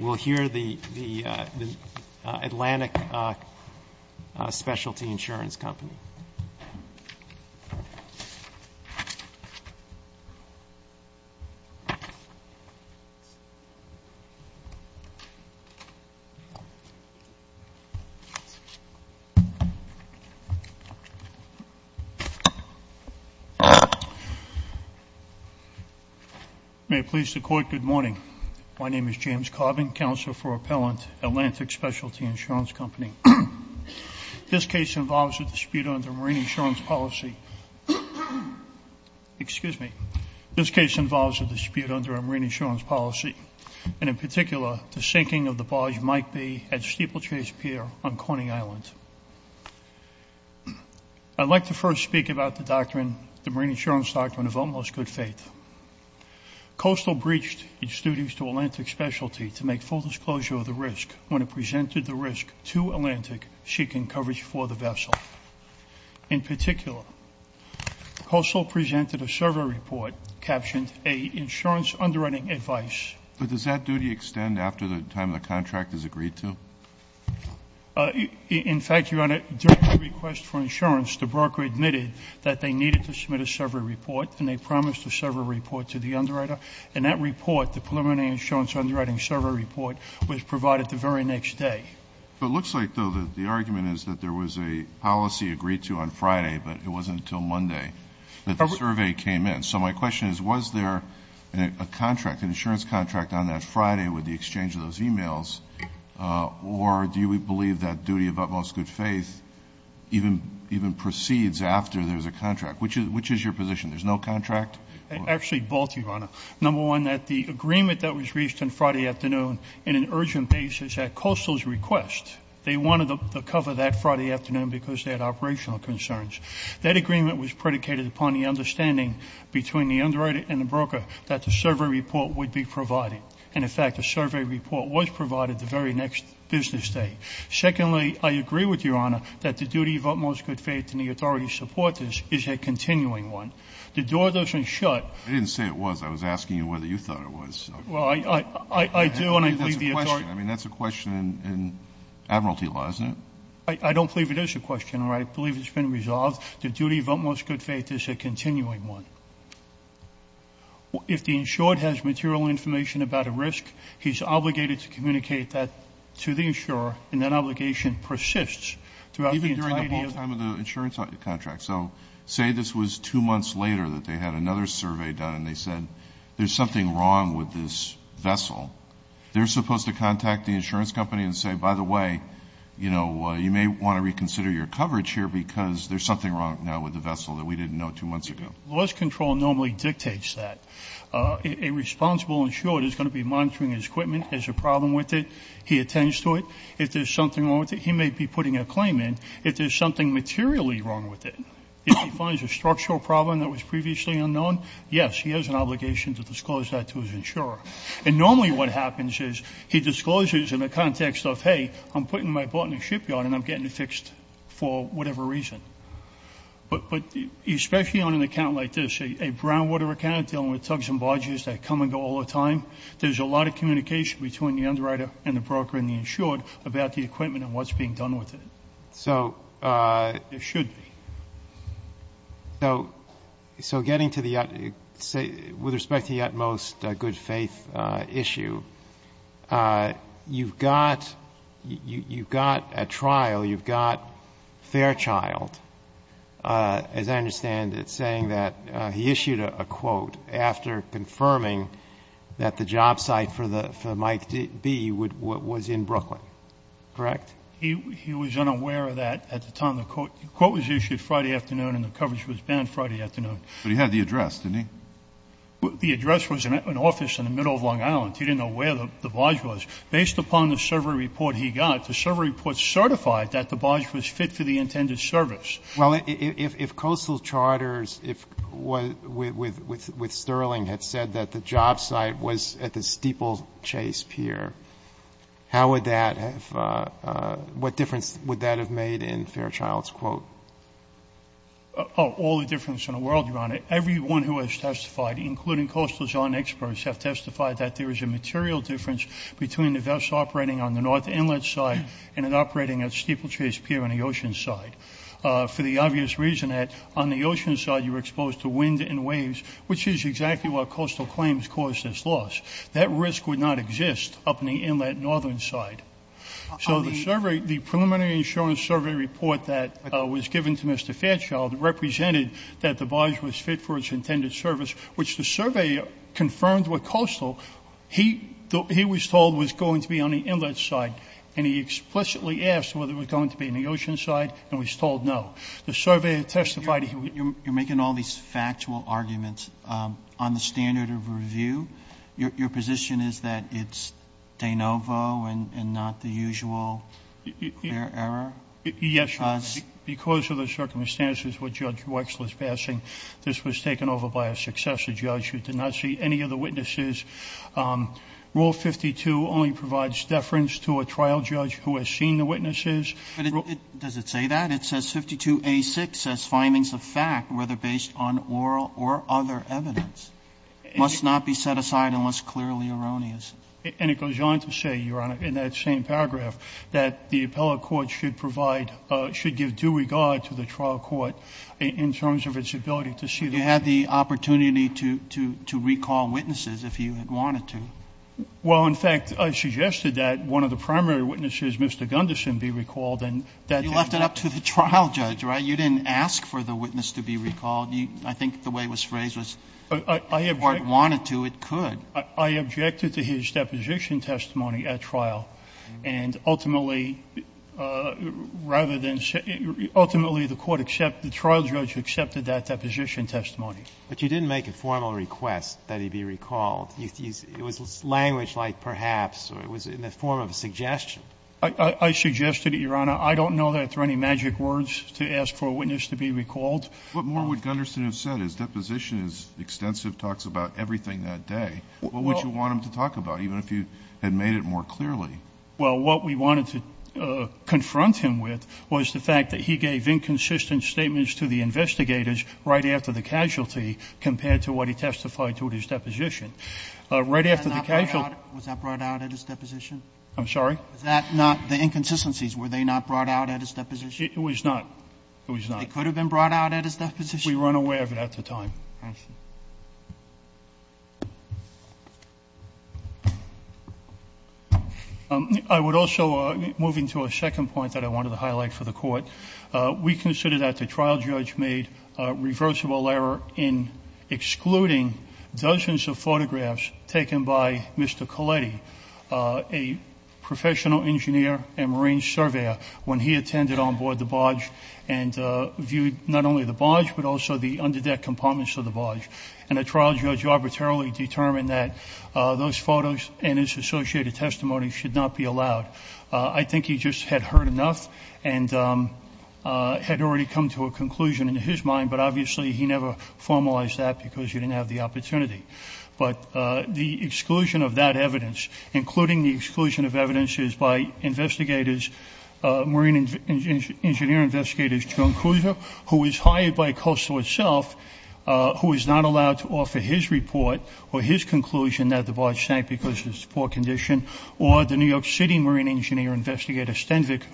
We'll hear the Atlantic Specialty Insurance Company. May it please the Court, good morning. My name is James Carbin, Counsel for Appellant, Atlantic Specialty Insurance Company. This case involves a dispute under marine insurance policy. Excuse me. This case involves a dispute under a marine insurance policy, and in particular the sinking of the barge Mike Bay at Steeplechase Pier on Corning Island. I'd like to first speak about the doctrine, the marine insurance doctrine of almost good faith. Coastal breached its duties to Atlantic Specialty to make full disclosure of the risk when it presented the risk to Atlantic seeking coverage for the vessel. In particular, Coastal presented a survey report, captioned, A Insurance Underwriting Advice. But does that duty extend after the time the contract is agreed to? In fact, your Honor, during the request for insurance, the broker admitted that they needed to submit a survey report, and they promised a survey report to the underwriter. And that report, the preliminary insurance underwriting survey report, was provided the very next day. It looks like, though, the argument is that there was a policy agreed to on Friday, but it wasn't until Monday that the survey came in. So my question is, was there a contract, an insurance contract, on that Friday with the exchange of those e-mails, or do you believe that duty of utmost good faith even proceeds after there's a contract? Which is your position? There's no contract? Actually, both, your Honor. Number one, that the agreement that was reached on Friday afternoon in an urgent basis at Coastal's request, they wanted to cover that Friday afternoon because they had operational concerns. That agreement was predicated upon the understanding between the underwriter and the broker that the survey report would be provided. And, in fact, the survey report was provided the very next business day. Secondly, I agree with your Honor that the duty of utmost good faith and the authority to support this is a continuing one. The door doesn't shut. I didn't say it was. I was asking you whether you thought it was. Well, I do, and I believe the authority. I mean, that's a question in admiralty law, isn't it? I don't believe it is a question, or I believe it's been resolved. The duty of utmost good faith is a continuing one. If the insured has material information about a risk, he's obligated to communicate that to the insurer, and that obligation persists throughout the entire period. Even during the full time of the insurance contract. So say this was two months later that they had another survey done, and they said there's something wrong with this vessel. They're supposed to contact the insurance company and say, by the way, you know, you may want to reconsider your coverage here because there's something wrong now with the vessel that we didn't know two months ago. Laws control normally dictates that. A responsible insured is going to be monitoring his equipment. There's a problem with it. He attends to it. If there's something wrong with it, he may be putting a claim in. If there's something materially wrong with it, if he finds a structural problem that was previously unknown, yes, he has an obligation to disclose that to his insurer. And normally what happens is he discloses in the context of, hey, I'm putting my boat in the shipyard and I'm getting it fixed for whatever reason. But especially on an account like this, a groundwater account dealing with tugs and barges that come and go all the time, there's a lot of communication between the underwriter and the broker and the insured about the equipment and what's being done with it. So. It should be. So getting to the, with respect to the utmost good faith issue, you've got a trial. You've got Fairchild, as I understand it, saying that he issued a quote after confirming that the job site for Mike B was in Brooklyn. Correct? He was unaware of that at the time. The quote was issued Friday afternoon and the coverage was banned Friday afternoon. But he had the address, didn't he? The address was an office in the middle of Long Island. He didn't know where the barge was. Based upon the survey report he got, the survey report certified that the barge was fit for the intended service. Well, if Coastal Charters, if with Sterling, had said that the job site was at the steeplechase pier, how would that have, what difference would that have made in Fairchild's quote? Oh, all the difference in the world, Your Honor. Everyone who has testified, including Coastal's own experts, have testified that there is a material difference between the vest operating on the north inlet side and it operating at steeplechase pier on the ocean side. For the obvious reason that on the ocean side you were exposed to wind and waves, which is exactly what Coastal claims caused this loss. That risk would not exist up in the inlet northern side. So the preliminary insurance survey report that was given to Mr. Fairchild represented that the barge was fit for its intended service, which the surveyor confirmed with Coastal. He was told it was going to be on the inlet side, and he explicitly asked whether it was going to be on the ocean side and was told no. The surveyor testified he was. You're making all these factual arguments on the standard of review. Your position is that it's de novo and not the usual error? Yes, Your Honor. Because of the circumstances with Judge Wexler's passing, this was taken over by a successor judge who did not see any other witnesses. Rule 52 only provides deference to a trial judge who has seen the witnesses. But does it say that? It says 52A6 says findings of fact, whether based on oral or other evidence, must not be set aside unless clearly erroneous. And it goes on to say, Your Honor, in that same paragraph, that the appellate court should provide, should give due regard to the trial court in terms of its ability to see the witnesses. You had the opportunity to recall witnesses if you had wanted to. Well, in fact, I suggested that one of the primary witnesses, Mr. Gunderson, be recalled, and that is not the case. You left it up to the trial judge, right? You didn't ask for the witness to be recalled. I think the way it was phrased was if the court wanted to, it could. I objected to his deposition testimony at trial. And ultimately, rather than say, ultimately the court accepted, the trial judge accepted that deposition testimony. But you didn't make a formal request that he be recalled. It was language like perhaps, or it was in the form of a suggestion. I suggested it, Your Honor. I don't know that there are any magic words to ask for a witness to be recalled. What more would Gunderson have said? His deposition is extensive, talks about everything that day. What would you want him to talk about, even if you had made it more clearly? Well, what we wanted to confront him with was the fact that he gave inconsistent statements to the investigators right after the casualty compared to what he testified to at his deposition. Right after the casualty. Was that brought out at his deposition? I'm sorry? Was that not the inconsistencies? Were they not brought out at his deposition? It was not. It was not. They could have been brought out at his deposition? We were unaware of it at the time. I see. Thank you. I would also, moving to a second point that I wanted to highlight for the court, we consider that the trial judge made a reversible error in excluding dozens of photographs taken by Mr. Colletti, a professional engineer and marine surveyor, when he attended on board the barge and viewed not only the barge, but also the under deck compartments of the barge. And the trial judge arbitrarily determined that those photos and his associated testimony should not be allowed. I think he just had heard enough and had already come to a conclusion in his mind, but obviously he never formalized that because he didn't have the opportunity. But the exclusion of that evidence, including the exclusion of evidences by investigators, marine engineer investigators, who is hired by Coastal itself, who is not allowed to offer his report or his conclusion that the barge sank because of its poor condition, or the New York City marine engineer investigator,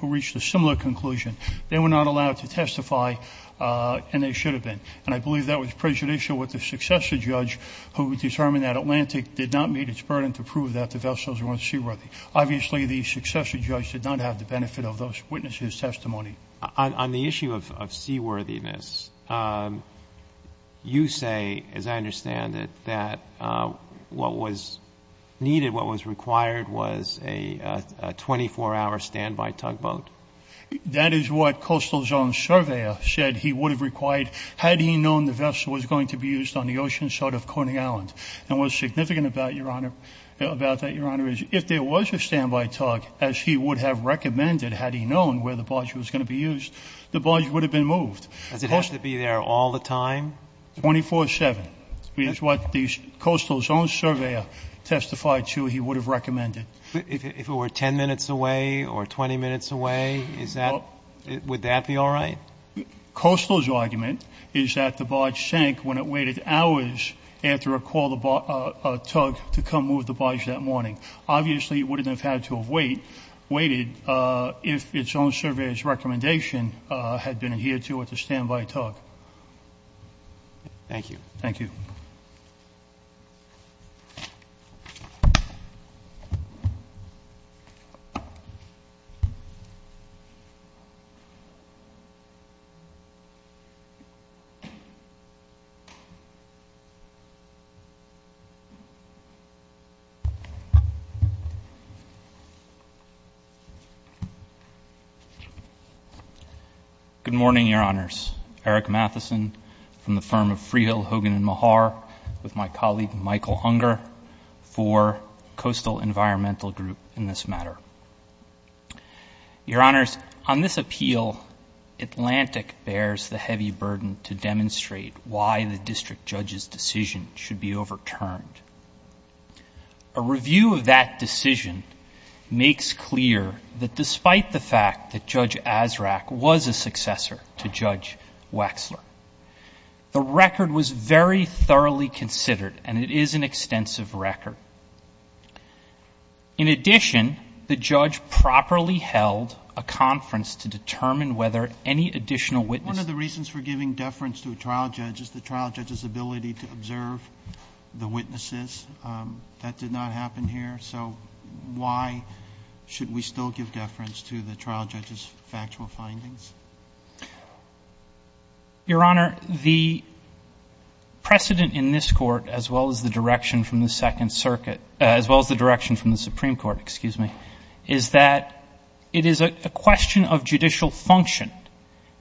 who reached a similar conclusion. They were not allowed to testify, and they should have been. And I believe that was prejudicial with the successor judge, who determined that Atlantic did not meet its burden to prove that the vessels weren't seaworthy. Obviously, the successor judge did not have the benefit of those witnesses' testimony. On the issue of seaworthiness, you say, as I understand it, that what was needed, what was required, was a 24-hour standby tugboat. That is what Coastal's own surveyor said he would have required, had he known the vessel was going to be used on the ocean side of Corning Island. And what's significant about that, Your Honor, is if there was a standby tug, as he would have recommended, had he known where the barge was going to be used, the barge would have been moved. Does it have to be there all the time? 24-7 is what Coastal's own surveyor testified to he would have recommended. If it were 10 minutes away or 20 minutes away, would that be all right? Coastal's argument is that the barge sank when it waited hours after a call to tug to come move the barge that morning. Obviously, it wouldn't have had to have waited if its own surveyor's recommendation had been adhered to at the standby tug. Thank you. Thank you. Eric Matheson. Good morning, Your Honors. Eric Matheson from the firm of Freehill, Hogan & Mahar, with my colleague Michael Hunger for Coastal Environmental Group in this matter. Your Honors, on this appeal, Atlantic bears the heavy burden to demonstrate why the district judge's decision should be overturned. A review of that decision makes clear that despite the fact that Judge Azraq was a successor to Judge Wexler, the record was very thoroughly considered, and it is an extensive record. In addition, the judge properly held a conference to determine whether any additional witnesses One of the reasons for giving deference to a trial judge is the trial judge's ability to observe the witnesses. That did not happen here. So why should we still give deference to the trial judge's factual findings? Your Honor, the precedent in this court, as well as the direction from the Second Circuit as well as the direction from the Supreme Court, excuse me, is that it is a question of judicial function,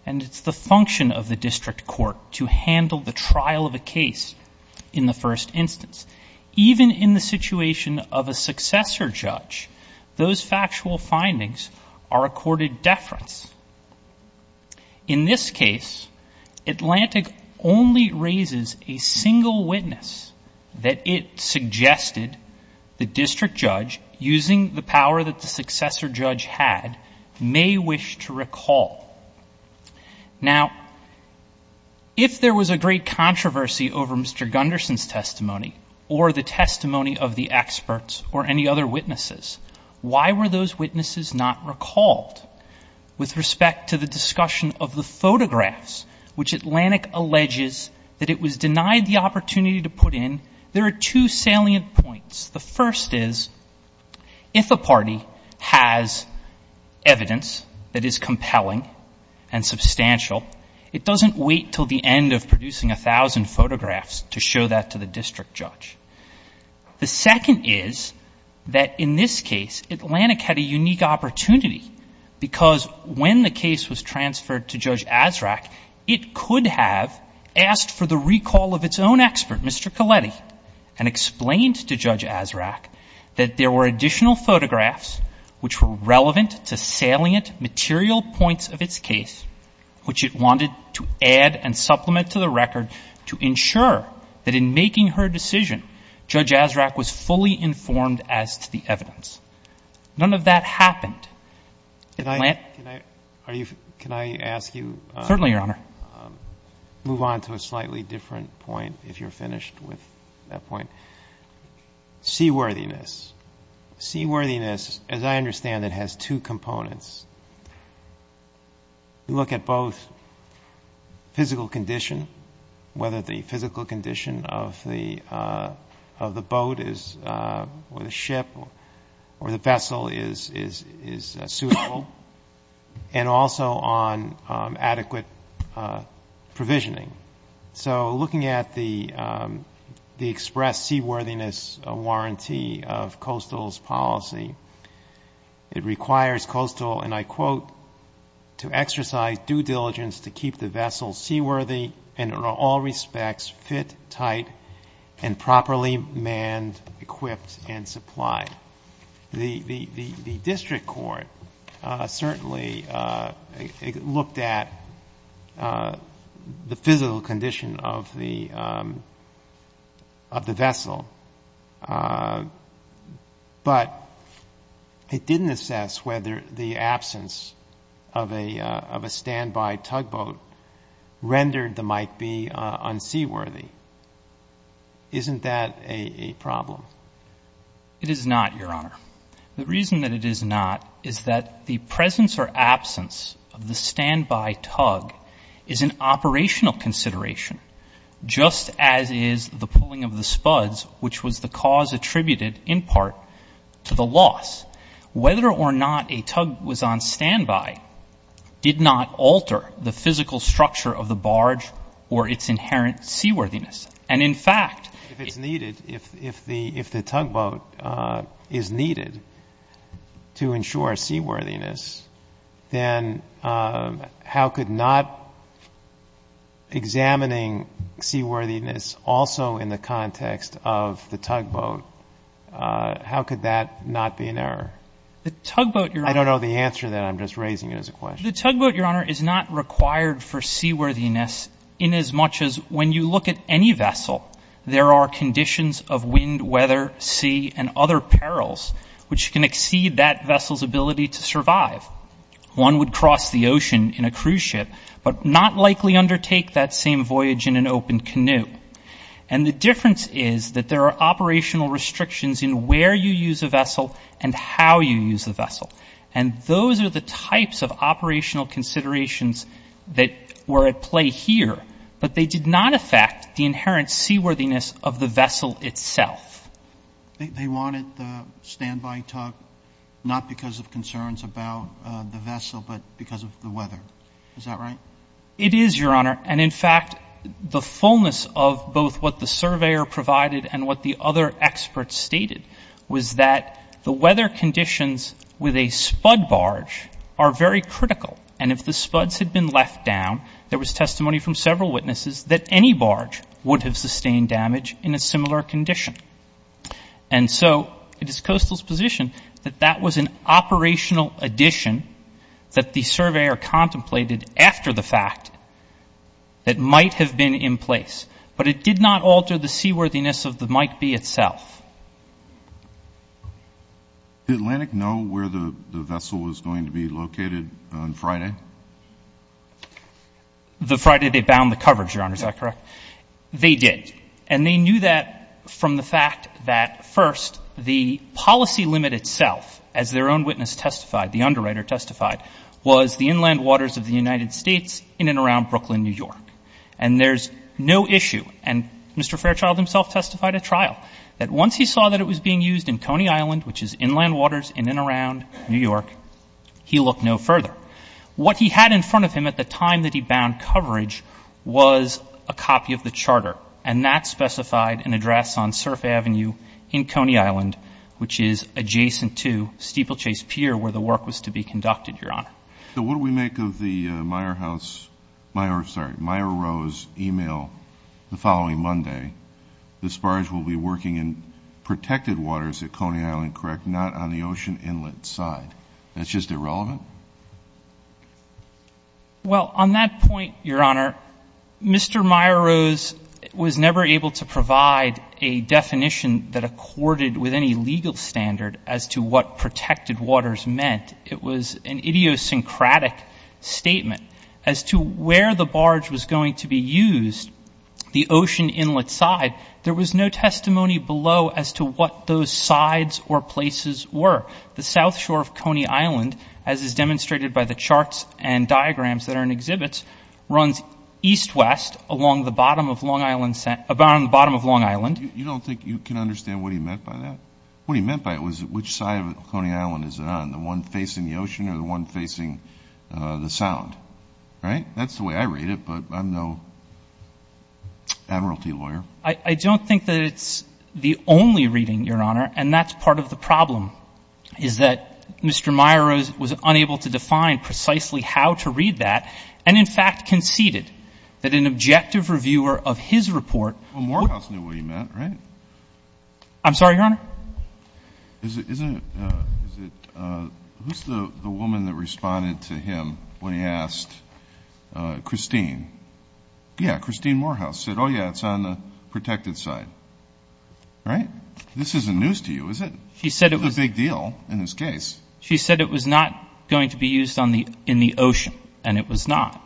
and it's the function of the district court to handle the trial of a case in the first instance. Even in the situation of a successor judge, those factual findings are accorded deference. In this case, Atlantic only raises a single witness that it suggested the district judge, using the power that the successor judge had, may wish to recall. Now, if there was a great controversy over Mr. Gunderson's testimony or the testimony of the experts or any other witnesses, why were those witnesses not recalled? With respect to the discussion of the photographs, which Atlantic alleges that it was denied the opportunity to put in, there are two salient points. The first is, if a party has evidence that is compelling and substantial, it doesn't wait until the end of producing 1,000 photographs to show that to the district judge. The second is that in this case, Atlantic had a unique opportunity, because when the case was transferred to Judge Azraq, it could have asked for the recall of its own expert, Mr. Colletti, and explained to Judge Azraq that there were additional photographs which were relevant to salient material points of its case, which it wanted to add and supplement to the record to ensure that in making her decision, Judge Azraq was fully informed as to the evidence. None of that happened. Can I ask you? Certainly, Your Honor. Move on to a slightly different point if you're finished with that point. Seaworthiness. Seaworthiness, as I understand it, has two components. You look at both physical condition, whether the physical condition of the boat or the ship or the vessel is suitable, and also on adequate provisioning. So looking at the express seaworthiness warranty of Coastal's policy, it requires Coastal, and I quote, to exercise due diligence to keep the vessel seaworthy and in all respects fit, tight, and properly manned, equipped, and supplied. The district court certainly looked at the physical condition of the vessel, but it didn't assess whether the absence of a standby tugboat rendered the Mike B. unseaworthy. Isn't that a problem? It is not, Your Honor. The reason that it is not is that the presence or absence of the standby tug is an operational consideration, just as is the pulling of the spuds, which was the cause attributed in part to the loss. Whether or not a tug was on standby did not alter the physical structure of the barge or its inherent seaworthiness. And, in fact, if it's needed, if the tugboat is needed to ensure seaworthiness, then how could not examining seaworthiness also in the context of the tugboat, how could that not be an error? The tugboat, Your Honor. I don't know the answer to that. I'm just raising it as a question. The tugboat, Your Honor, is not required for seaworthiness in as much as when you look at any vessel, there are conditions of wind, weather, sea, and other perils which can exceed that vessel's ability to survive. One would cross the ocean in a cruise ship, but not likely undertake that same voyage in an open canoe. And the difference is that there are operational restrictions in where you use a vessel and how you use the vessel. And those are the types of operational considerations that were at play here, but they did not affect the inherent seaworthiness of the vessel itself. They wanted the standby tug not because of concerns about the vessel, but because of the weather. Is that right? It is, Your Honor. And, in fact, the fullness of both what the surveyor provided and what the other experts stated was that the weather conditions with a spud barge are very critical, and if the spuds had been left down, there was testimony from several witnesses that any barge would have sustained damage in a similar condition. And so it is Coastal's position that that was an operational addition that the surveyor contemplated after the fact that might have been in place, but it did not alter the seaworthiness of the Mike B itself. Did Atlantic know where the vessel was going to be located on Friday? The Friday they bound the coverage, Your Honor. Is that correct? They did. And they knew that from the fact that, first, the policy limit itself, as their own witness testified, the underwriter testified, was the inland waters of the United States in and around Brooklyn, New York. And there's no issue, and Mr. Fairchild himself testified at trial, that once he saw that it was being used in Coney Island, which is inland waters in and around New York, he looked no further. What he had in front of him at the time that he bound coverage was a copy of the charter, and that specified an address on Surf Avenue in Coney Island, which is adjacent to Steeplechase Pier where the work was to be conducted, Your Honor. So what do we make of the Meyer House — sorry, Meyer Rose email the following Monday, the barge will be working in protected waters at Coney Island, correct, not on the ocean inlet side? That's just irrelevant? Well, on that point, Your Honor, Mr. Meyer Rose was never able to provide a definition that accorded with any legal standard as to what protected waters meant. It was an idiosyncratic statement. As to where the barge was going to be used, the ocean inlet side, there was no testimony below as to what those sides or places were. The south shore of Coney Island, as is demonstrated by the charts and diagrams that are in exhibit, runs east-west along the bottom of Long Island. You don't think you can understand what he meant by that? What he meant by it was which side of Coney Island is it on, the one facing the ocean or the one facing the sound, right? That's the way I read it, but I'm no admiralty lawyer. I don't think that it's the only reading, Your Honor, and that's part of the problem, is that Mr. Meyer Rose was unable to define precisely how to read that and, in fact, conceded that an objective reviewer of his report. Well, Morehouse knew what he meant, right? I'm sorry, Your Honor? Who's the woman that responded to him when he asked Christine? Yeah, Christine Morehouse said, oh, yeah, it's on the protected side, right? This isn't news to you, is it? It's a big deal in this case. She said it was not going to be used in the ocean, and it was not.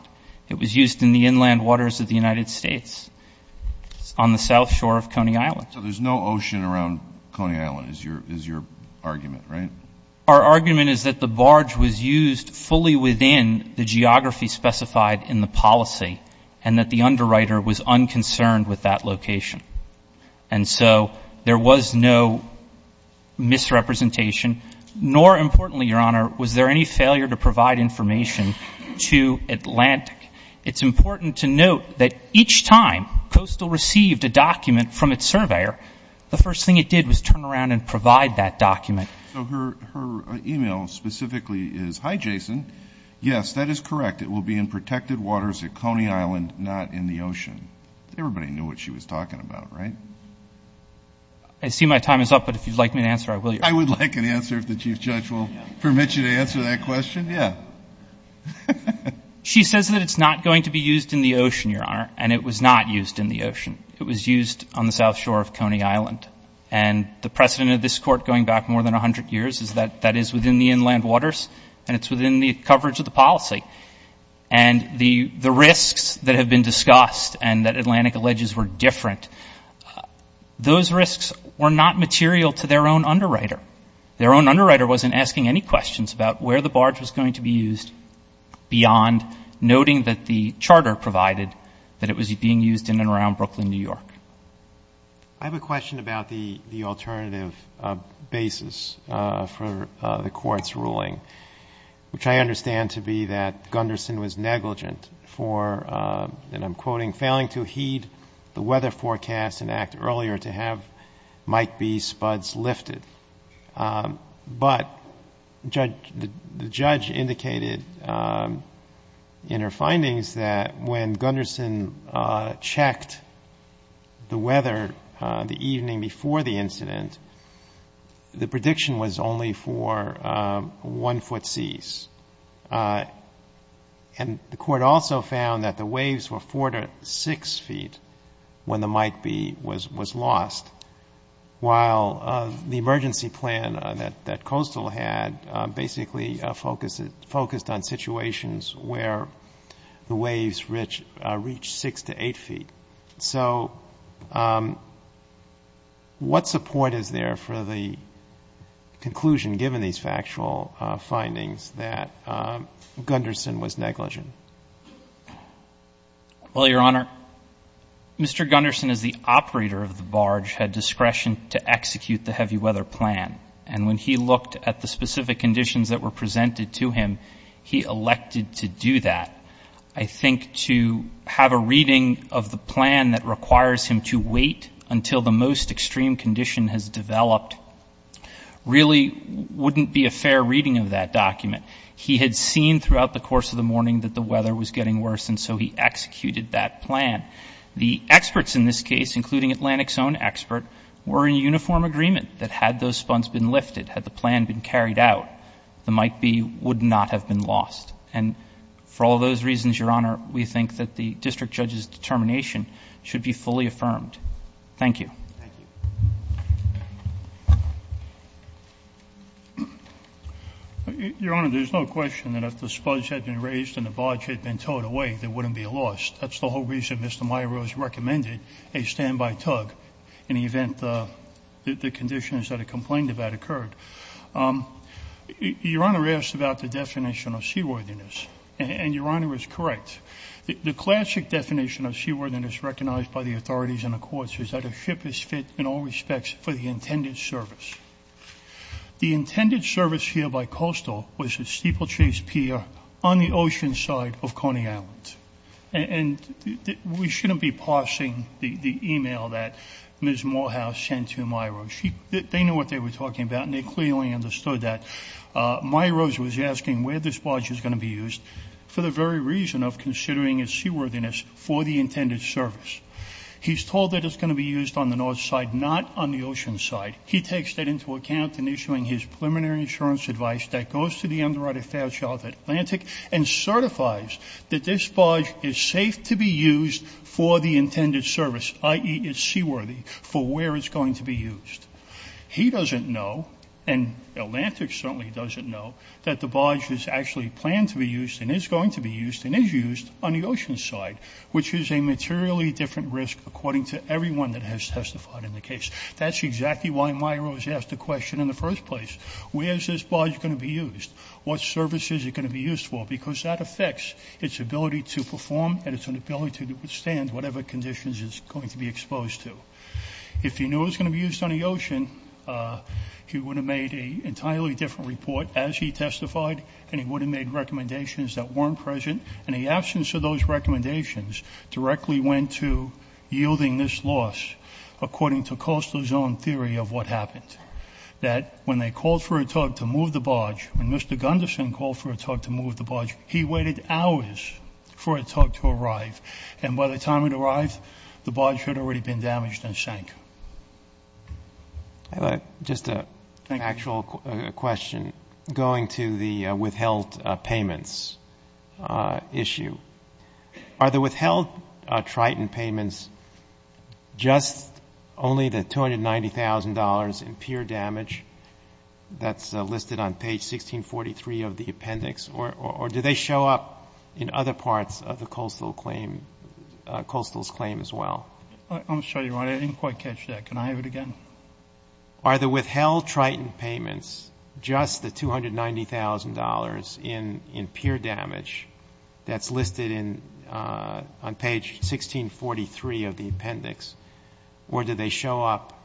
It was used in the inland waters of the United States on the south shore of Coney Island. So there's no ocean around Coney Island is your argument, right? Our argument is that the barge was used fully within the geography specified in the policy and that the underwriter was unconcerned with that location. And so there was no misrepresentation, nor importantly, Your Honor, was there any failure to provide information to Atlantic. It's important to note that each time Coastal received a document from its surveyor, the first thing it did was turn around and provide that document. So her email specifically is, hi, Jason. Yes, that is correct. It will be in protected waters at Coney Island, not in the ocean. Everybody knew what she was talking about, right? I see my time is up, but if you'd like me to answer, I will, Your Honor. I would like an answer if the Chief Judge will permit you to answer that question. Yeah. She says that it's not going to be used in the ocean, Your Honor, and it was not used in the ocean. It was used on the south shore of Coney Island. And the precedent of this Court going back more than 100 years is that that is within the inland waters and it's within the coverage of the policy. And the risks that have been discussed and that Atlantic alleges were different, those risks were not material to their own underwriter. Their own underwriter wasn't asking any questions about where the barge was going to be used beyond noting that the charter provided that it was being used in and around Brooklyn, New York. I have a question about the alternative basis for the Court's ruling, which I understand to be that Gunderson was negligent for, and I'm quoting, failing to heed the weather forecast and act earlier to have Mike B's spuds lifted. But the judge indicated in her findings that when Gunderson checked the weather the evening before the incident, the prediction was only for one-foot seas. And the Court also found that the waves were four to six feet when the Mike B was lost, while the emergency plan that Coastal had basically focused on situations where the waves reached six to eight feet. So what support is there for the conclusion, given these factual findings, that Gunderson was negligent? Well, Your Honor, Mr. Gunderson, as the operator of the barge, had discretion to execute the heavy weather plan. And when he looked at the specific conditions that were presented to him, he elected to do that. I think to have a reading of the plan that requires him to wait until the most extreme condition has developed really wouldn't be a fair reading of that document. He had seen throughout the course of the morning that the weather was getting worse, and so he executed that plan. The experts in this case, including Atlantic's own expert, were in uniform agreement that had those spuds been lifted, had the plan been carried out, the Mike B would not have been lost. And for all those reasons, Your Honor, we think that the district judge's determination should be fully affirmed. Thank you. Thank you. Your Honor, there's no question that if the spuds had been raised and the barge had been towed away, they wouldn't be lost. That's the whole reason Mr. Miro has recommended a standby tug in the event that the conditions that are complained about occurred. Your Honor asked about the definition of seaworthiness, and Your Honor is correct. The classic definition of seaworthiness recognized by the authorities and the courts is that a ship is fit in all respects for the intended service. The intended service here by coastal was a steeplechase pier on the ocean side of Coney Island. And we shouldn't be parsing the e-mail that Ms. Morehouse sent to Miro. They know what they were talking about, and they clearly understood that. Miro's was asking where this barge is going to be used for the very reason of considering its seaworthiness for the intended service. He's told that it's going to be used on the north side, not on the ocean side. He takes that into account in issuing his preliminary insurance advice that goes to the Underwriter Fairchild Atlantic and certifies that this barge is safe to be used for the intended service, i.e., it's seaworthy for where it's going to be used. He doesn't know, and Atlantic certainly doesn't know, that the barge is actually planned to be used and is going to be used and is used on the ocean side, which is a materially different risk according to everyone that has testified in the case. That's exactly why Miro has asked the question in the first place. Where is this barge going to be used? What service is it going to be used for? Because that affects its ability to perform and its ability to withstand whatever conditions it's going to be exposed to. If he knew it was going to be used on the ocean, he would have made an entirely different report as he testified, and he would have made recommendations that weren't present, and the absence of those recommendations directly went to yielding this loss, according to Kostler's own theory of what happened, that when they called for a tug to move the barge, when Mr. Gunderson called for a tug to move the barge, he waited hours for a tug to arrive, and by the time it arrived, the barge had already been damaged and sank. Just an actual question. Going to the withheld payments issue, are the withheld Triton payments just only the $290,000 in pure damage that's listed on page 1643 of the appendix, or do they show up in other parts of the Kostler's claim as well? I'm sorry, Your Honor. I didn't quite catch that. Can I have it again? Are the withheld Triton payments just the $290,000 in pure damage that's listed on page 1643 of the appendix, or do they show up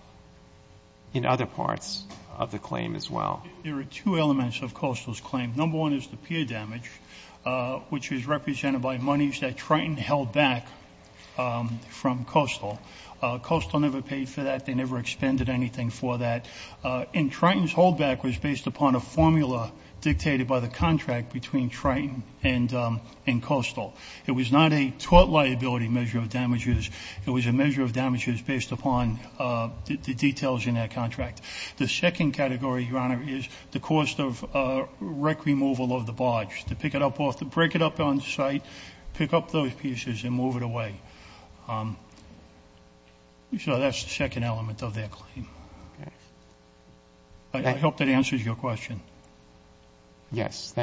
in other parts of the claim as well? There are two elements of Kostler's claim. Number one is the pure damage, which is represented by monies that Triton held back from Kostler. Kostler never paid for that. They never expended anything for that. And Triton's holdback was based upon a formula dictated by the contract between Triton and Kostler. It was not a tort liability measure of damages. It was a measure of damages based upon the details in that contract. The second category, Your Honor, is the cost of wreck removal of the barge. To pick it up off the break it up on site, pick up those pieces, and move it away. So that's the second element of their claim. I hope that answers your question. Yes.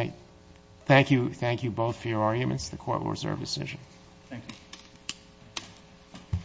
Thank you both for your arguments. The Court will reserve decision. Thank you.